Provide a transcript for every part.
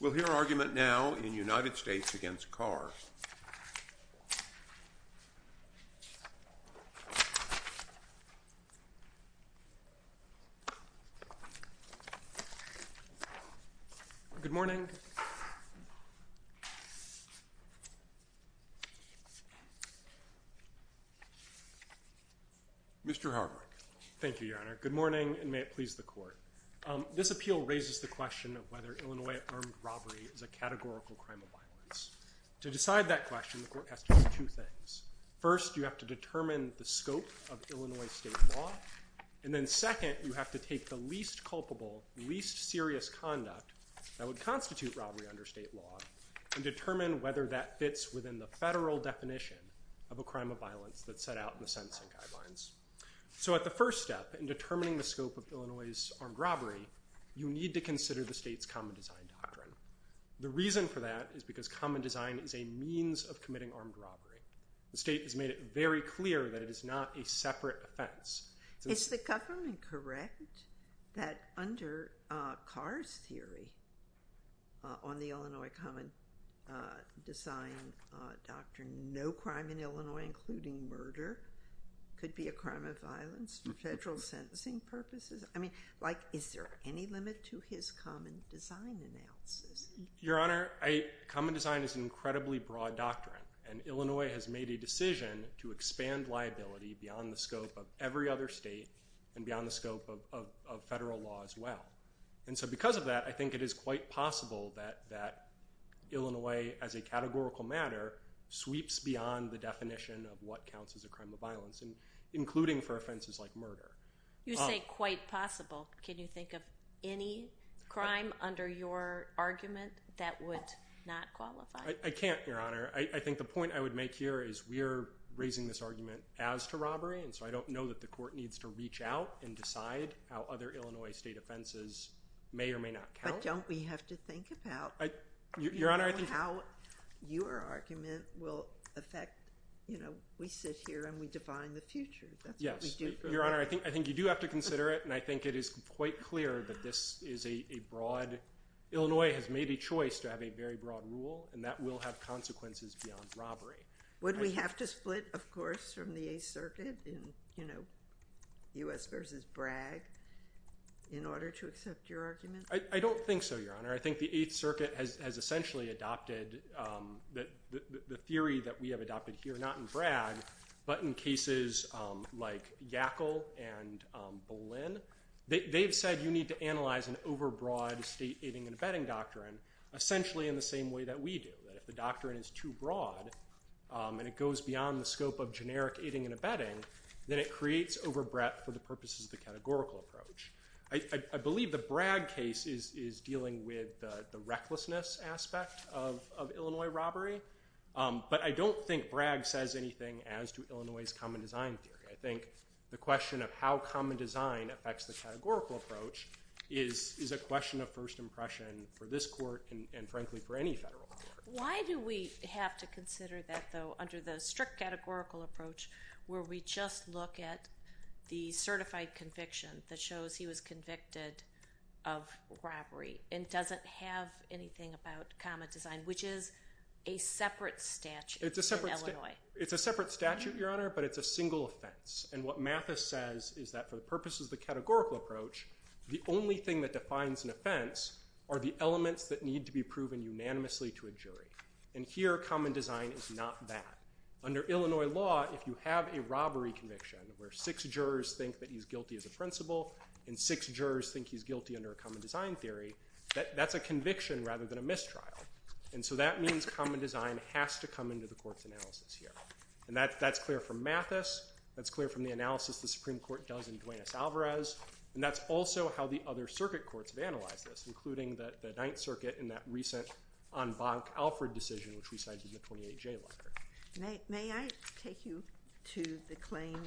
We'll hear argument now in United States v. Carr. Good morning. Mr. Harbert. Thank you, Your Honor. Good morning, and may it please the Court. This appeal raises the question of whether Illinois armed robbery is a categorical crime of violence. To decide that question, the Court has to do two things. First, you have to determine the scope of Illinois state law. And then second, you have to take the least culpable, least serious conduct that would constitute robbery under state law and determine whether that fits within the federal definition of a crime of violence that's set out in the sentencing guidelines. So at the first step in determining the scope of Illinois' armed robbery, you need to consider the state's common design doctrine. The reason for that is because common design is a means of committing armed robbery. The state has made it very clear that it is not a separate offense. Is the government correct that under Carr's theory on the Illinois common design doctrine, no crime in Illinois, including murder, could be a crime of violence for federal sentencing purposes? I mean, like, is there any limit to his common design analysis? Your Honor, common design is an incredibly broad doctrine. And Illinois has made a decision to expand liability beyond the scope of every other state and beyond the scope of federal law as well. And so because of that, I think it is quite possible that Illinois, as a categorical matter, sweeps beyond the definition of what counts as a crime of violence, including for offenses like murder. You say quite possible. Can you think of any crime under your argument that would not qualify? I can't, Your Honor. I think the point I would make here is we are raising this argument as to robbery, and so I don't know that the court needs to reach out and decide how other Illinois state offenses may or may not count. But don't we have to think about how your argument will affect, you know, we sit here and we define the future. That's what we do. Your Honor, I think you do have to consider it, and I think it is quite clear that this is a broad. Illinois has made a choice to have a very broad rule, and that will have consequences beyond robbery. Would we have to split, of course, from the Eighth Circuit in, you know, U.S. versus Bragg in order to accept your argument? I don't think so, Your Honor. I think the Eighth Circuit has essentially adopted the theory that we have adopted here, not in Bragg, but in cases like Yackel and Boleyn. They've said you need to analyze an overbroad state aiding and abetting doctrine essentially in the same way that we do, that if the doctrine is too broad and it goes beyond the scope of generic aiding and abetting, then it creates overbreadth for the purposes of the categorical approach. I believe the Bragg case is dealing with the recklessness aspect of Illinois robbery, but I don't think Bragg says anything as to Illinois' common design theory. I think the question of how common design affects the categorical approach is a question of first impression for this court and, frankly, for any federal court. Why do we have to consider that, though, under the strict categorical approach, where we just look at the certified conviction that shows he was convicted of robbery and doesn't have anything about common design, which is a separate statute in Illinois? It's a separate statute, Your Honor, but it's a single offense, and what Mathis says is that for the purposes of the categorical approach, the only thing that defines an offense are the elements that need to be proven unanimously to a jury, and here common design is not that. Under Illinois law, if you have a robbery conviction where six jurors think that he's guilty as a principal and six jurors think he's guilty under a common design theory, that's a conviction rather than a mistrial, and so that means common design has to come into the court's analysis here, and that's clear from Mathis. That's clear from the analysis the Supreme Court does in Duane S. Alvarez, and that's also how the other circuit courts have analyzed this, including the Ninth Circuit in that recent Anbanc-Alford decision, which resides in the 28J letter. May I take you to the claim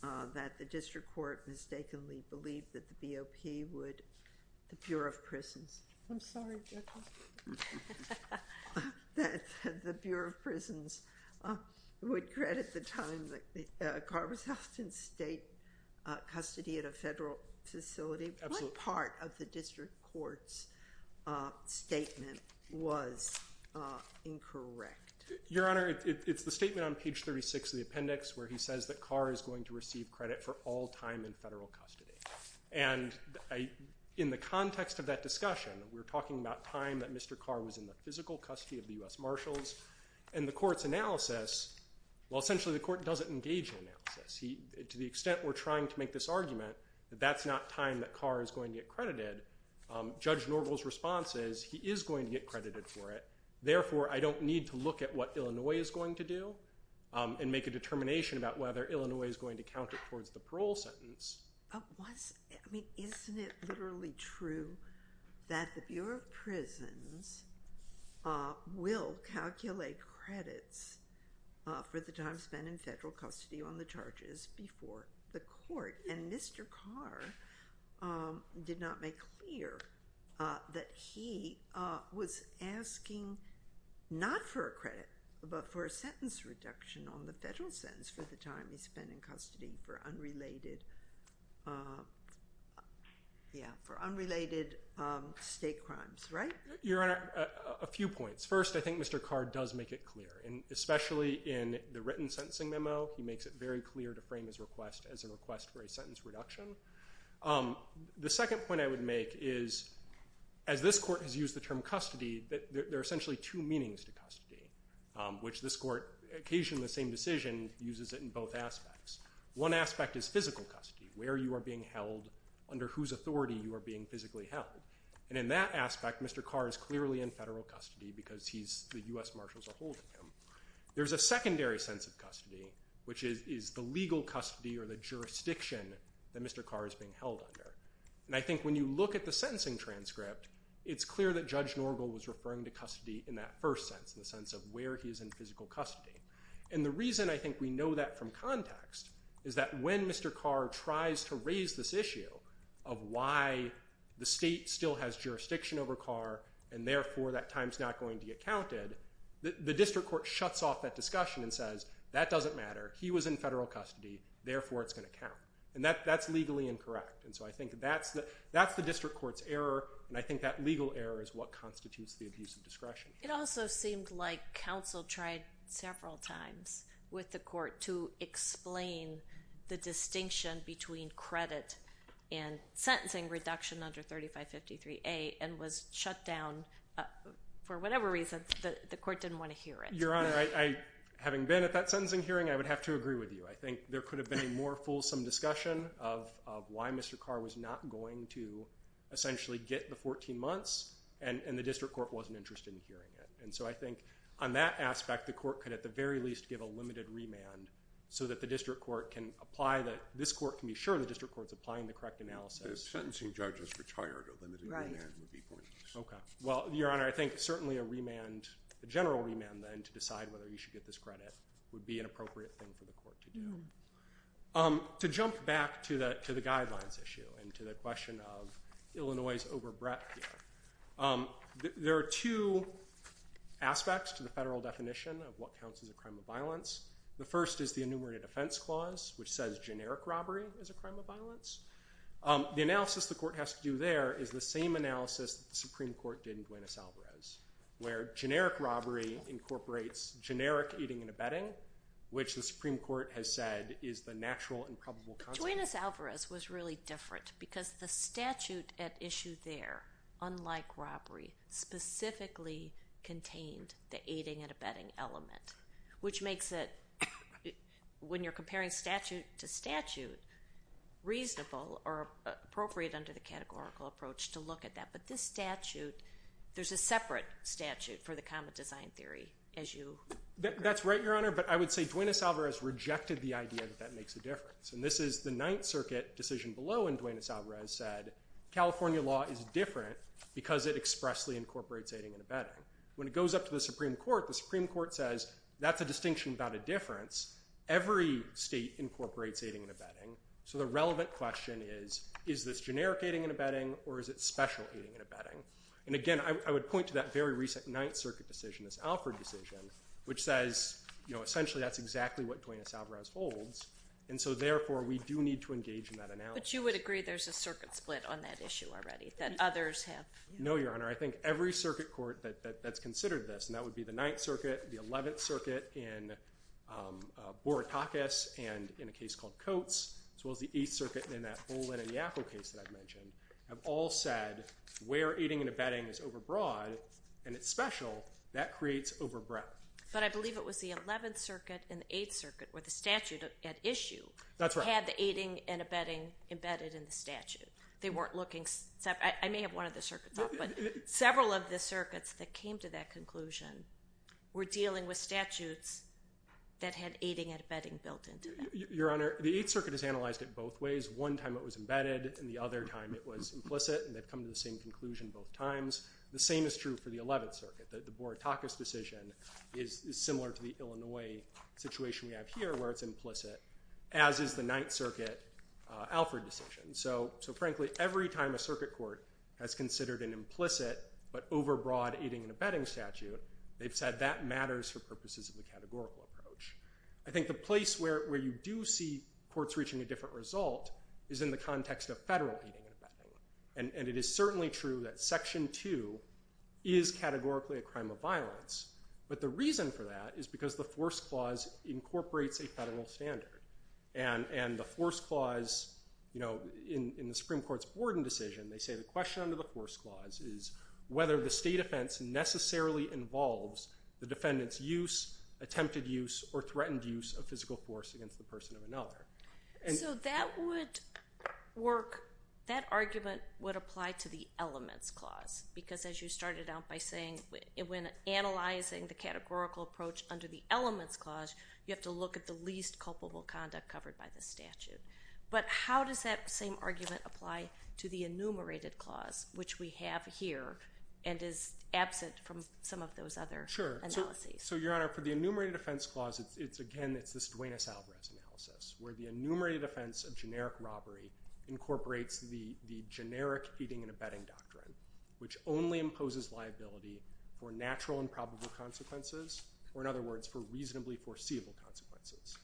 that the district court mistakenly believed that the BOP would, the Bureau of Prisons? I'm sorry, Jekyll. That the Bureau of Prisons would credit the time that Carr was held in state custody at a federal facility? Absolutely. What part of the district court's statement was incorrect? Your Honor, it's the statement on page 36 of the appendix where he says that Carr is going to receive credit for all time in federal custody, and in the context of that discussion, we're talking about time that Mr. Carr was in the physical custody of the U.S. Marshals, and the court's analysis, well, essentially the court doesn't engage in analysis. To the extent we're trying to make this argument that that's not time that Carr is going to get credited, Judge Norville's response is he is going to get credited for it. Therefore, I don't need to look at what Illinois is going to do and make a determination about whether Illinois is going to count it towards the parole sentence. Isn't it literally true that the Bureau of Prisons will calculate credits for the time spent in federal custody on the charges before the court, and Mr. Carr did not make clear that he was asking not for a credit, but for a sentence reduction on the federal sentence for the time he spent in custody for unrelated state crimes, right? Your Honor, a few points. First, I think Mr. Carr does make it clear, and especially in the written sentencing memo, he makes it very clear to frame his request as a request for a sentence reduction. The second point I would make is, as this court has used the term custody, there are essentially two meanings to custody, which this court, occasionally the same decision, uses it in both aspects. One aspect is physical custody, where you are being held, under whose authority you are being physically held, and in that aspect, Mr. Carr is clearly in federal custody because the U.S. Marshals are holding him. There's a secondary sense of custody, which is the legal custody or the jurisdiction that Mr. Carr is being held under, and I think when you look at the sentencing transcript, it's clear that Judge Norgal was referring to custody in that first sense, in the sense of where he is in physical custody. And the reason I think we know that from context is that when Mr. Carr tries to raise this issue of why the state still has jurisdiction over Carr, and therefore that time's not going to get counted, the district court shuts off that discussion and says, that doesn't matter, he was in federal custody, therefore it's going to count. And that's legally incorrect, and so I think that's the district court's error, and I think that legal error is what constitutes the abuse of discretion. It also seemed like counsel tried several times with the court to explain the distinction between credit and sentencing reduction under 3553A and was shut down for whatever reason. The court didn't want to hear it. Your Honor, having been at that sentencing hearing, I would have to agree with you. I think there could have been a more fulsome discussion of why Mr. Carr was not going to essentially get the 14 months, and the district court wasn't interested in hearing it. And so I think on that aspect, the court could at the very least give a limited remand so that this court can be sure the district court is applying the correct analysis. If sentencing judges retired, a limited remand would be pointless. Well, Your Honor, I think certainly a general remand then to decide whether you should get this credit would be an appropriate thing for the court to do. To jump back to the guidelines issue and to the question of Illinois' overbreadth here, there are two aspects to the federal definition of what counts as a crime of violence. The first is the enumerated offense clause, which says generic robbery is a crime of violence. The analysis the court has to do there is the same analysis that the Supreme Court did in Buenos Aires, where generic robbery incorporates generic eating and abetting, which the Supreme Court has said is the natural and probable consequence. But Buenos Aires was really different because the statute at issue there, unlike robbery, specifically contained the eating and abetting element, which makes it, when you're comparing statute to statute, reasonable or appropriate under the categorical approach to look at that. But this statute, there's a separate statute for the common design theory, as you... That's right, Your Honor, but I would say Duenas-Alvarez rejected the idea that that makes a difference. And this is the Ninth Circuit decision below, and Duenas-Alvarez said California law is different because it expressly incorporates eating and abetting. When it goes up to the Supreme Court, the Supreme Court says that's a distinction about a difference. Every state incorporates eating and abetting. So the relevant question is, is this generic eating and abetting or is it special eating and abetting? And again, I would point to that very recent Ninth Circuit decision, this Alford decision, which says, you know, essentially that's exactly what Duenas-Alvarez holds. And so, therefore, we do need to engage in that analysis. But you would agree there's a circuit split on that issue already that others have? No, Your Honor. I think every circuit court that's considered this, and that would be the Ninth Circuit, the Eleventh Circuit in Borotakis and in a case called Coates, as well as the Eighth Circuit in that Bolin and Yaffo case that I've mentioned, have all said where eating and abetting is overbroad and it's special, that creates overbreadth. But I believe it was the Eleventh Circuit and the Eighth Circuit, or the statute at issue, had the eating and abetting embedded in the statute. They weren't looking separately. I may have one of the circuits off, but several of the circuits that came to that conclusion were dealing with statutes that had eating and abetting built into them. Your Honor, the Eighth Circuit has analyzed it both ways. One time it was embedded, and the other time it was implicit, and they've come to the same conclusion both times. The same is true for the Eleventh Circuit. The Borotakis decision is similar to the Illinois situation we have here, where it's implicit, as is the Ninth Circuit Alford decision. So, frankly, every time a circuit court has considered an implicit but overbroad eating and abetting statute, they've said that matters for purposes of the categorical approach. I think the place where you do see courts reaching a different result is in the context of federal eating and abetting. And it is certainly true that Section 2 is categorically a crime of violence. But the reason for that is because the Force Clause incorporates a federal standard. And the Force Clause, you know, in the Supreme Court's Borden decision, they say the question under the Force Clause is whether the state offense necessarily involves the defendant's use, attempted use, or threatened use of physical force against the person of another. So that would work. That argument would apply to the Elements Clause. Because, as you started out by saying, when analyzing the categorical approach under the Elements Clause, you have to look at the least culpable conduct covered by the statute. But how does that same argument apply to the Enumerated Clause, which we have here and is absent from some of those other analyses? Sure. So, Your Honor, for the Enumerated Offense Clause, again, it's this Duenas-Alvarez analysis, where the Enumerated Offense of generic robbery incorporates the generic eating and abetting doctrine, which only imposes liability for natural and probable consequences, or, in other words, for reasonably foreseeable consequences.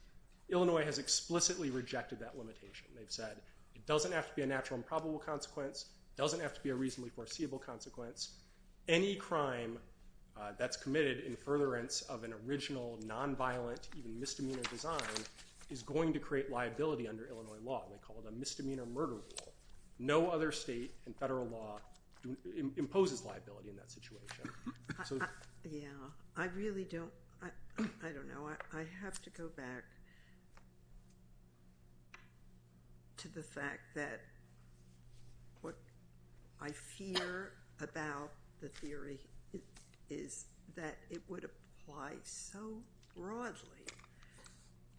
Illinois has explicitly rejected that limitation. They've said it doesn't have to be a natural and probable consequence. It doesn't have to be a reasonably foreseeable consequence. Any crime that's committed in furtherance of an original, nonviolent, even misdemeanor design is going to create liability under Illinois law, and they call it a misdemeanor murder rule. No other state and federal law imposes liability in that situation. Yeah. I really don't—I don't know. I have to go back to the fact that what I fear about the theory is that it would apply so broadly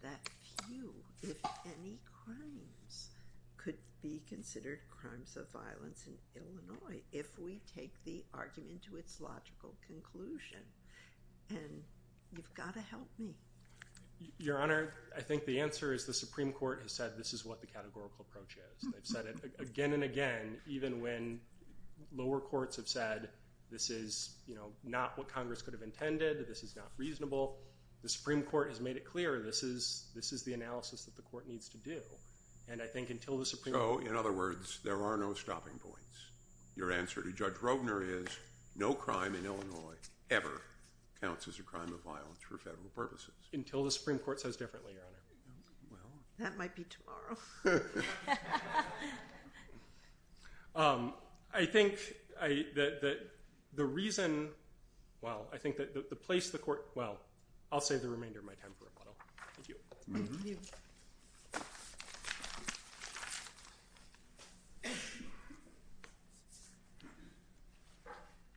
that few, if any, crimes could be considered crimes of violence in Illinois if we take the argument to its logical conclusion. And you've got to help me. Your Honor, I think the answer is the Supreme Court has said this is what the categorical approach is. They've said it again and again, even when lower courts have said this is, you know, not what Congress could have intended, this is not reasonable. The Supreme Court has made it clear this is the analysis that the court needs to do, and I think until the Supreme Court— So, in other words, there are no stopping points. Your answer to Judge Rogner is no crime in Illinois ever counts as a crime of violence for federal purposes. Until the Supreme Court says differently, Your Honor. That might be tomorrow. I think that the reason—well, I think that the place the court— well, I'll save the remainder of my time for rebuttal. Thank you.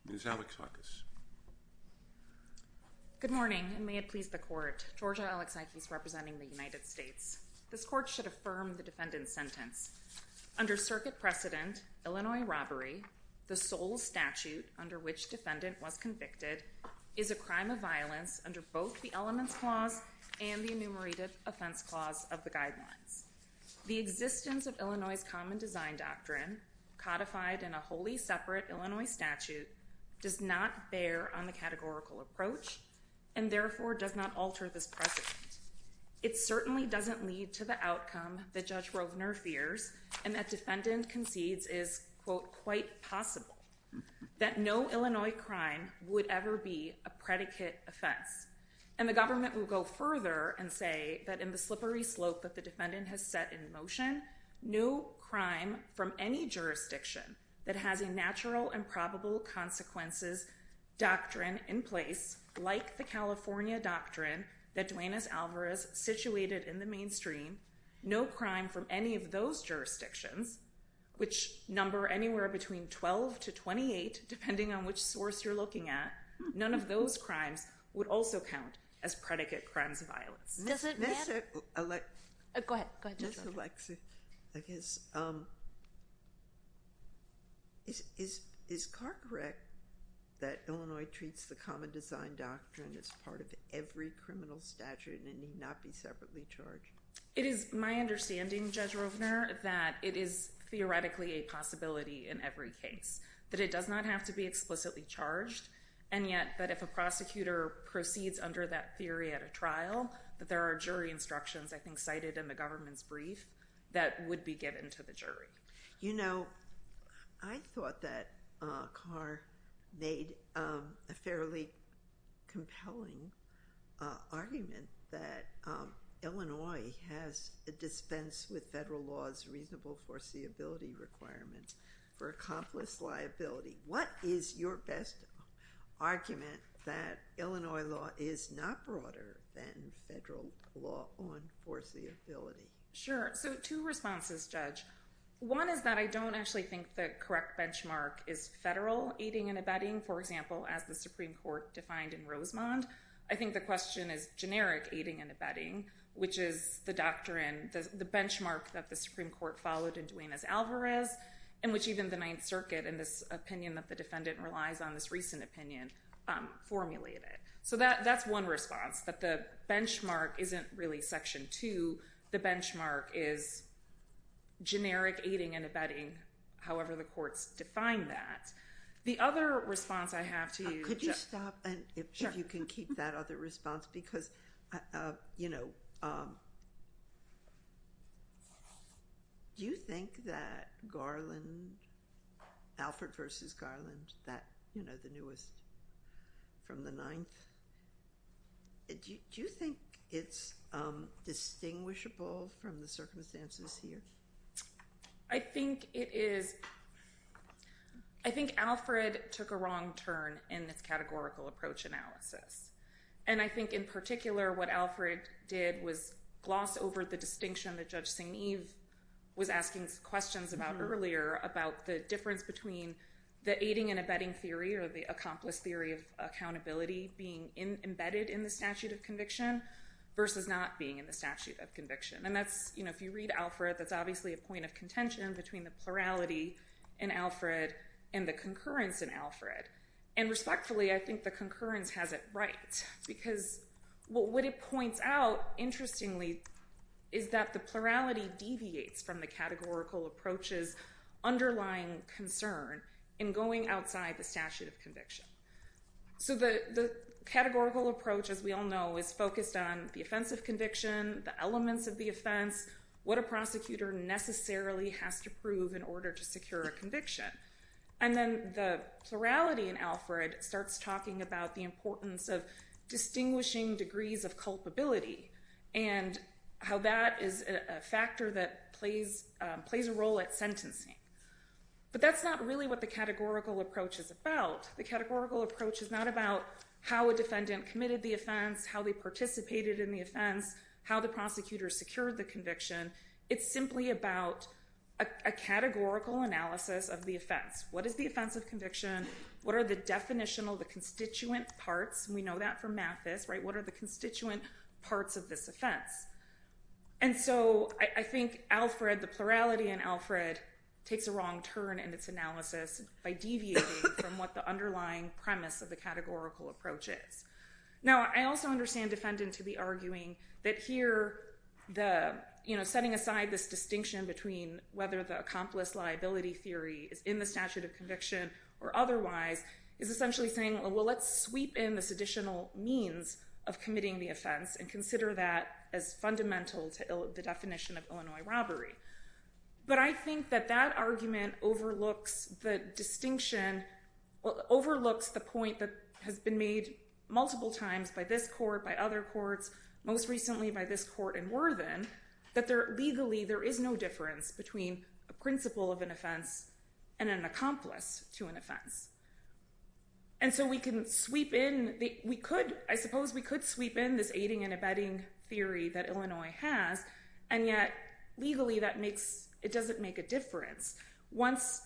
Ms. Alexakis. Good morning, and may it please the court. Georgia Alexakis, representing the United States. This court should affirm the defendant's sentence. Under circuit precedent, Illinois robbery, the sole statute under which defendant was convicted, is a crime of violence under both the Elements Clause and the Enumerated Offense Clause of the Guidelines. The existence of Illinois' Common Design Doctrine, codified in a wholly separate Illinois statute, does not bear on the categorical approach, and therefore does not alter this precedent. It certainly doesn't lead to the outcome that Judge Rogner fears, and that defendant concedes is, quote, quite possible, that no Illinois crime would ever be a predicate offense. And the government will go further and say that in the slippery slope that the defendant has set in motion, no crime from any jurisdiction that has a natural and probable consequences doctrine in place, like the California doctrine that Duane S. Alvarez situated in the mainstream, no crime from any of those jurisdictions, which number anywhere between 12 to 28, depending on which source you're looking at, none of those crimes would also count as predicate crimes of violence. Does it matter? Go ahead. Ms. Alexa, I guess, is Carte correct that Illinois treats the Common Design Doctrine as part of every criminal statute and it need not be separately charged? It is my understanding, Judge Rogner, that it is theoretically a possibility in every case, that it does not have to be explicitly charged, and yet that if a prosecutor proceeds under that theory at a trial, that there are jury instructions, I think cited in the government's brief, that would be given to the jury. You know, I thought that Carr made a fairly compelling argument that Illinois has a dispense with federal law's reasonable foreseeability requirements for accomplice liability. What is your best argument that Illinois law is not broader than federal law on foreseeability? Sure. So two responses, Judge. One is that I don't actually think the correct benchmark is federal aiding and abetting, for example, as the Supreme Court defined in Rosemond. I think the question is generic aiding and abetting, which is the benchmark that the Supreme Court followed in Duenas-Alvarez, and which even the Ninth Circuit, in this opinion that the defendant relies on, this recent opinion, formulated. So that's one response, that the benchmark isn't really Section 2. The benchmark is generic aiding and abetting, The other response I have to you, Judge. Could you stop, and if you can keep that other response, because, you know, do you think that Garland, Alfred versus Garland, that, you know, the newest from the Ninth, do you think it's distinguishable from the circumstances here? I think it is. I think Alfred took a wrong turn in this categorical approach analysis. And I think, in particular, what Alfred did was gloss over the distinction that Judge Signeve was asking questions about earlier about the difference between the aiding and abetting theory, or the accomplice theory of accountability being embedded in the statute of conviction versus not being in the statute of conviction. And that's, if you read Alfred, that's obviously a point of contention between the plurality in Alfred and the concurrence in Alfred. And respectfully, I think the concurrence has it right. Because what it points out, interestingly, is that the plurality deviates from the categorical approach's underlying concern in going outside the statute of conviction. So the categorical approach, as we all know, is focused on the offense of conviction, the elements of the offense, what a prosecutor necessarily has to prove in order to secure a conviction. And then the plurality in Alfred starts talking about the importance of distinguishing degrees of culpability and how that is a factor that plays a role at sentencing. But that's not really what the categorical approach is about. The categorical approach is not about how a defendant committed the offense, how they participated in the offense, how the prosecutor secured the conviction. It's simply about a categorical analysis of the offense. What is the offense of conviction? What are the definitional, the constituent parts? And we know that from Mathis, right? What are the constituent parts of this offense? And so I think Alfred, the plurality in Alfred, takes a wrong turn in its analysis by deviating from what the underlying premise of the categorical approach is. Now, I also understand defendant to be arguing that here, setting aside this distinction between whether the accomplice liability theory is in the statute of conviction or otherwise is essentially saying, well, let's sweep in this additional means of committing the offense and consider that as fundamental to the definition of Illinois robbery. But I think that that argument overlooks the distinction, overlooks the point that has been made multiple times by this court, by other courts, most recently by this court in Worthen, that legally, there is no difference between a principle of an offense and an accomplice to an offense. And so we can sweep in. I suppose we could sweep in this aiding and abetting theory that Illinois has. And yet, legally, it doesn't make a difference. Once,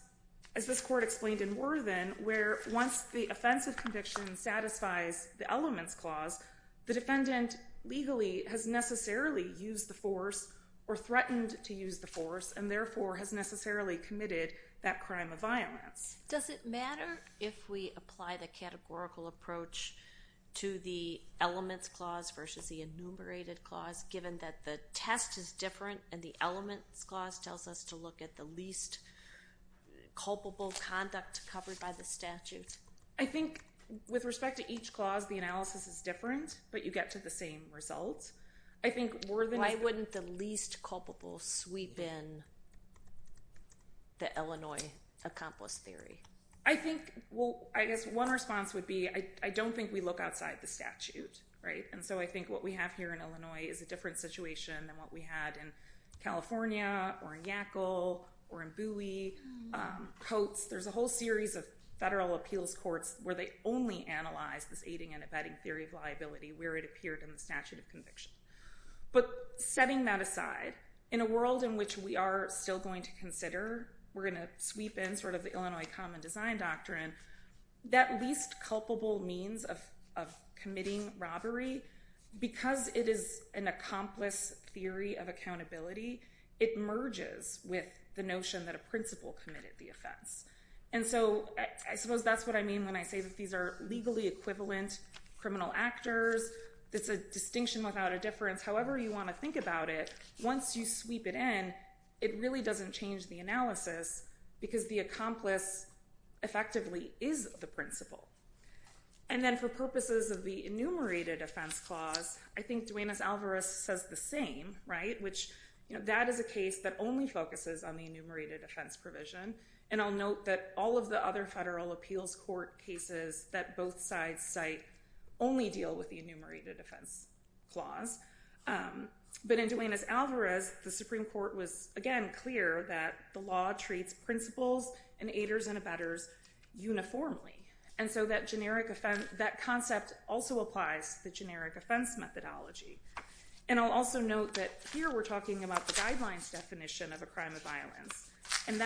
as this court explained in Worthen, where once the offense of conviction satisfies the elements clause, the defendant legally has necessarily used the force or threatened to use the force and therefore has necessarily committed that crime of violence. Does it matter if we apply the categorical approach to the elements clause versus the enumerated clause, given that the test is different and the elements clause tells us to look at the least culpable conduct covered by the statute? I think, with respect to each clause, the analysis is different. But you get to the same results. I think Worthen is the least culpable sweep in the Illinois accomplice theory. I think, well, I guess one response would be, I don't think we look outside the statute. And so I think what we have here in Illinois is a different situation than what we had in California or in Yackel or in Bowie, Coates. There's a whole series of federal appeals courts where they only analyze this aiding and abetting theory of liability where it appeared in the statute of conviction. But setting that aside, in a world in which we are still going to consider, we're going to sweep in sort of the Illinois common design doctrine, that least culpable means of committing robbery. Because it is an accomplice theory of accountability, it merges with the notion that a principal committed the offense. And so I suppose that's what I mean when I say that these are legally equivalent criminal actors. It's a distinction without a difference. However you want to think about it, once you sweep it in, it really doesn't change the analysis because the accomplice effectively is the principal. And then for purposes of the enumerated offense clause, I think Duenas-Alvarez says the same, right? Which that is a case that only focuses on the enumerated offense provision. And I'll note that all of the other federal appeals court cases that both sides cite only deal with the enumerated offense clause. But in Duenas-Alvarez, the Supreme Court was, again, clear that the law treats principles and aiders and abettors uniformly. And so that concept also applies to generic offense methodology. And I'll also note that here we're talking about the guidelines definition of a crime of violence. And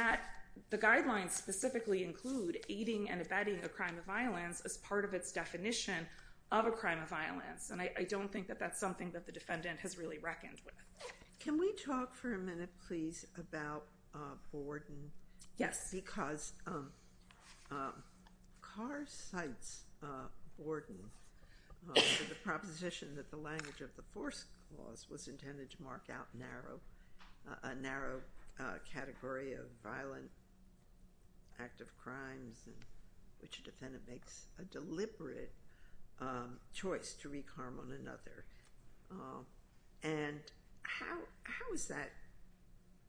the guidelines specifically include aiding and abetting a crime of violence as part of its definition of a crime of violence. And I don't think that that's something that the defendant has really reckoned with. Can we talk for a minute, please, about Borden? Yes. Because Carr cites Borden for the proposition that the language of the force clause was intended to mark out a narrow category of violent act of crimes in which a defendant makes a deliberate choice to wreak harm on another. And how is that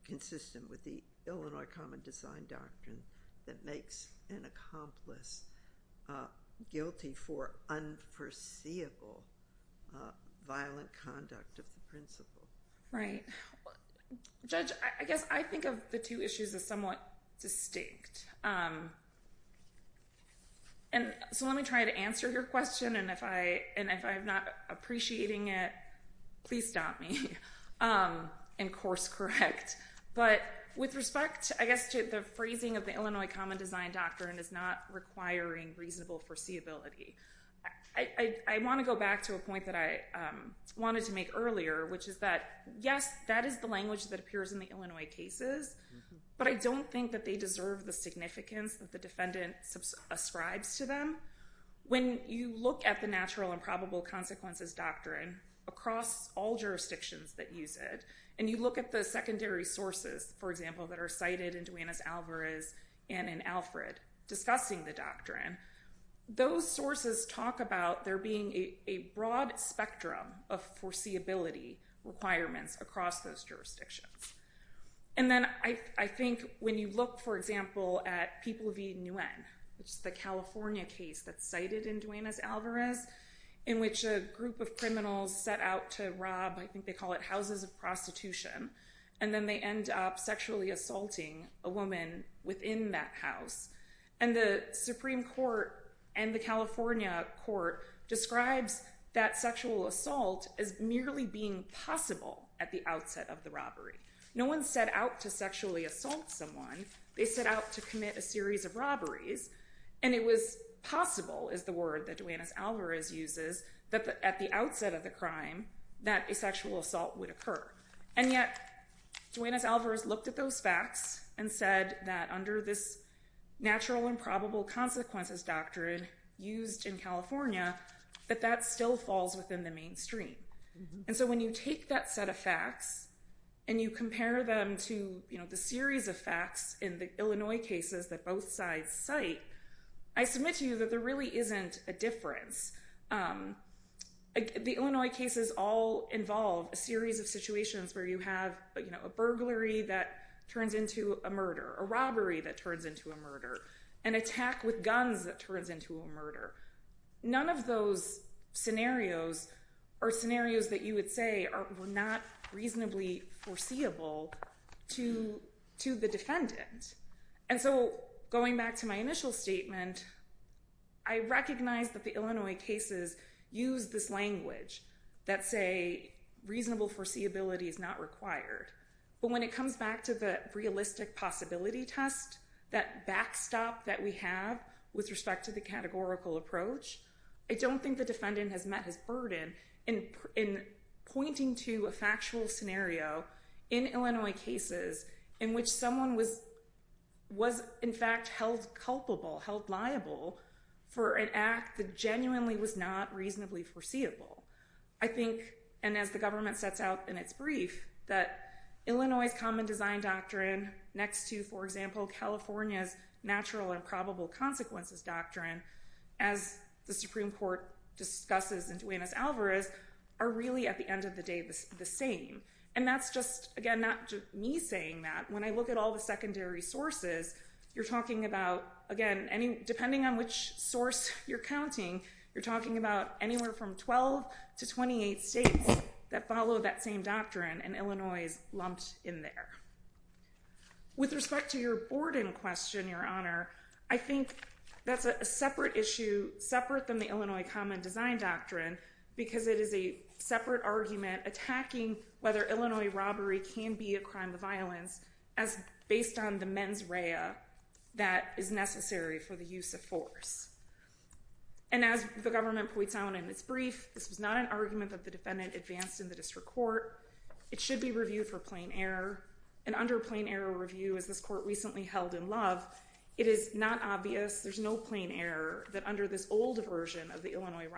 consistent with the Illinois Common Design Doctrine that makes an accomplice guilty for unforeseeable violent conduct of the principle? Right. Judge, I guess I think of the two issues as somewhat distinct. And so let me try to answer your question. And if I'm not appreciating it, please stop me. And course correct. But with respect, I guess, to the phrasing of the Illinois Common Design Doctrine is not requiring reasonable foreseeability. I want to go back to a point that I wanted to make earlier, which is that, yes, that is the language that appears in the Illinois cases. But I don't think that they deserve the significance that the defendant ascribes to them. When you look at the natural and probable consequences doctrine across all jurisdictions that use it, and you look at the secondary sources, for example, that are cited in Duenas-Alvarez and in Alfred discussing the doctrine, those sources talk about there being a broad spectrum of foreseeability requirements across those jurisdictions. And then I think when you look, for example, at People v. Nguyen, which is the California case that's set out to rob, I think they call it, houses of prostitution. And then they end up sexually assaulting a woman within that house. And the Supreme Court and the California court describes that sexual assault as merely being possible at the outset of the robbery. No one set out to sexually assault someone. They set out to commit a series of robberies. And it was possible, is the word that Duenas-Alvarez uses, at the outset of the crime, that a sexual assault would occur. And yet Duenas-Alvarez looked at those facts and said that under this natural and probable consequences doctrine used in California, that that still falls within the mainstream. And so when you take that set of facts and you compare them to the series of facts in the Illinois cases that both sides cite, I submit to you that there really isn't a difference. The Illinois cases all involve a series of situations where you have a burglary that turns into a murder, a robbery that turns into a murder, an attack with guns that turns into a murder. None of those scenarios are scenarios that you would say are not reasonably foreseeable to the defendant. And so going back to my initial statement, I recognize that the Illinois cases use this language that say reasonable foreseeability is not required. But when it comes back to the realistic possibility test, that backstop that we have with respect to the categorical approach, I don't think the defendant has met his burden in pointing to a factual scenario in Illinois cases in which someone was, in fact, held culpable, held liable for an act that genuinely was not reasonably foreseeable. I think, and as the government sets out in its brief, that Illinois' common design doctrine next to, for example, California's natural and probable consequences doctrine, as the Supreme Court discusses in Duenas-Alvarez, are really, at the end of the day, the same. And that's just, again, not me saying that. When I look at all the secondary sources, you're talking about, again, depending on which source you're counting, you're talking about anywhere from 12 to 28 states that follow that same doctrine. And Illinois is lumped in there. With respect to your Borden question, Your Honor, I think that's a separate issue, separate than the Illinois common design doctrine, because it is a separate argument attacking whether Illinois robbery can be a crime of violence, as based on the mens rea that is necessary for the use of force. And as the government points out in its brief, this was not an argument that the defendant advanced in the district court. It should be reviewed for plain error. And under plain error review, as this court recently held in love, it is not obvious, there's no plain error, that under this old version of the Illinois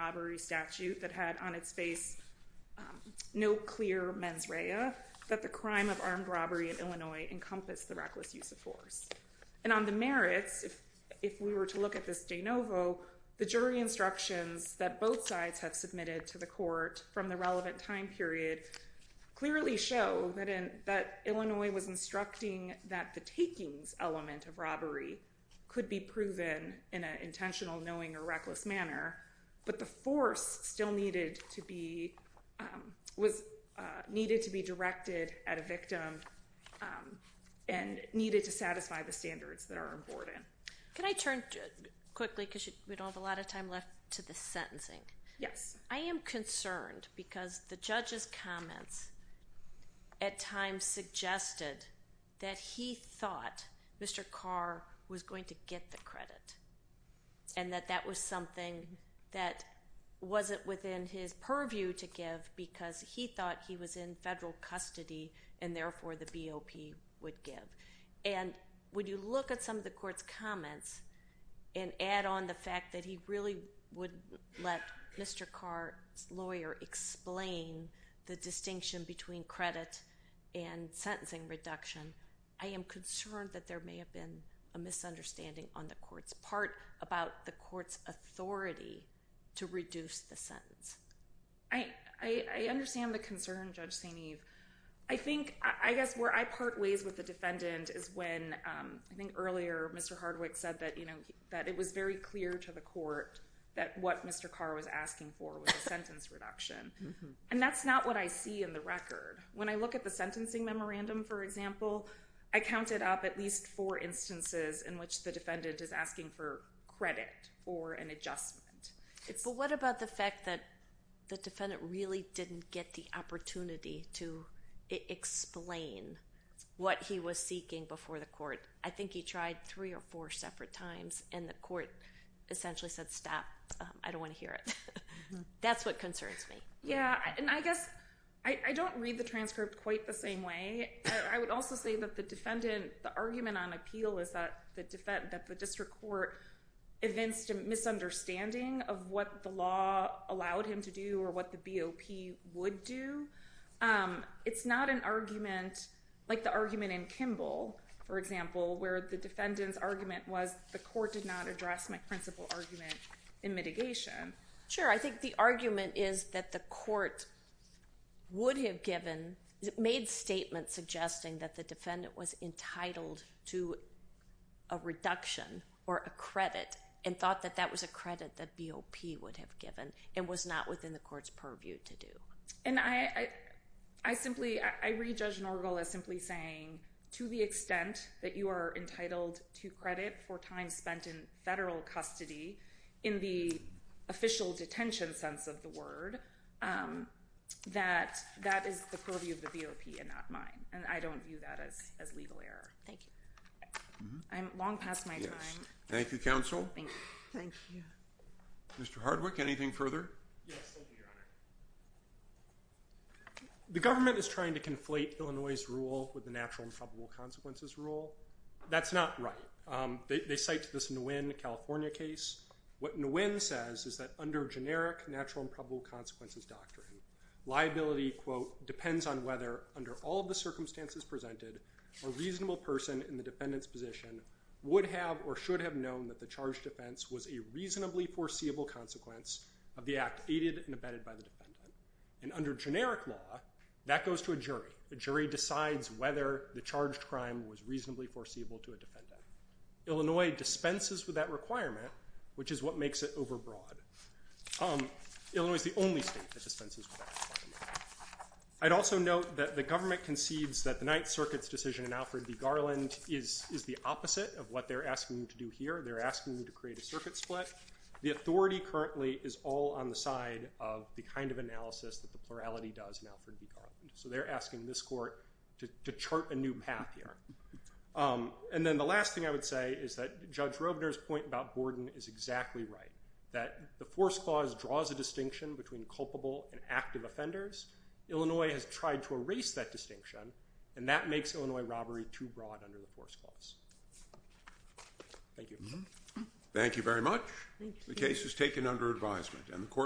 mens rea, that the crime of armed robbery in Illinois encompassed the reckless use of force. And on the merits, if we were to look at this de novo, the jury instructions that both sides have submitted to the court from the relevant time period clearly show that Illinois was instructing that the takings element of robbery could be proven in an intentional, knowing, or reckless manner, but the force still was needed to be directed at a victim and needed to satisfy the standards that are important. Can I turn quickly, because we don't have a lot of time left, to the sentencing. Yes. I am concerned, because the judge's comments at times suggested that he thought Mr. Carr was going to get the credit, and that that was something that wasn't within his purview to give, because he thought he was in federal custody, and therefore the BOP would give. And when you look at some of the court's comments and add on the fact that he really would let Mr. Carr's lawyer explain the distinction between credit and sentencing reduction, I am concerned that there may have been a misunderstanding on the court's part about the court's authority to reduce the sentence. I understand the concern, Judge St. Eve. I think, I guess, where I part ways with the defendant is when, I think earlier, Mr. Hardwick said that it was very clear to the court that what Mr. Carr was asking for was a sentence reduction. And that's not what I see in the record. When I look at the sentencing memorandum, for example, I counted up at least four instances in which the defendant is asking for credit or an adjustment. But what about the fact that the defendant really didn't get the opportunity to explain what he was seeking before the court? I think he tried three or four separate times, and the court essentially said, stop. I don't want to hear it. That's what concerns me. Yeah, and I guess I don't read the transcript quite the same way. I would also say that the defendant, the argument on appeal is that the district court evinced a misunderstanding of what the law allowed him to do or what the BOP would do. It's not an argument like the argument in Kimball, for example, where the defendant's argument was the court did not address my principal argument in mitigation. Sure, I think the argument is that the court would have given, made statements suggesting that the defendant was entitled to a reduction or a credit and thought that that was a credit that BOP would have given and was not within the court's purview to do. And I simply, I read Judge Norgal as simply saying, to the extent that you are entitled to credit for time spent in federal custody in the official detention sense of the word, that that is the purview of the BOP and not mine. And I don't view that as legal error. Thank you. I'm long past my time. Thank you, counsel. Thank you. Mr. Hardwick, anything further? Yes, thank you, Your Honor. The government is trying to conflate Illinois' rule with the natural and probable consequences rule. That's not right. They cite this Nguyen, California case. What Nguyen says is that under generic natural and probable consequences doctrine, liability, quote, depends on whether, under all of the circumstances presented, a reasonable person in the defendant's position would have or should have known that the charged defense was a reasonably foreseeable consequence of the act aided and abetted by the defendant. And under generic law, that goes to a jury. The jury decides whether the charged crime was reasonably foreseeable to a defendant. Illinois dispenses with that requirement, which is what makes it overbroad. Illinois is the only state that dispenses with that requirement. I'd also note that the government concedes that the Ninth Circuit's decision in Alfred v. Garland is the opposite of what they're asking you to do here. They're asking you to create a circuit split. The authority currently is all on the side of the kind of analysis that the plurality does in Alfred v. Garland. So they're asking this court to chart a new path here. And then the last thing I would say is that Judge Robner's point about Borden is exactly right, that the force clause draws a distinction between culpable and active offenders. Illinois has tried to erase that distinction. And that makes Illinois robbery too broad under the force clause. Thank you. Thank you very much. And the court.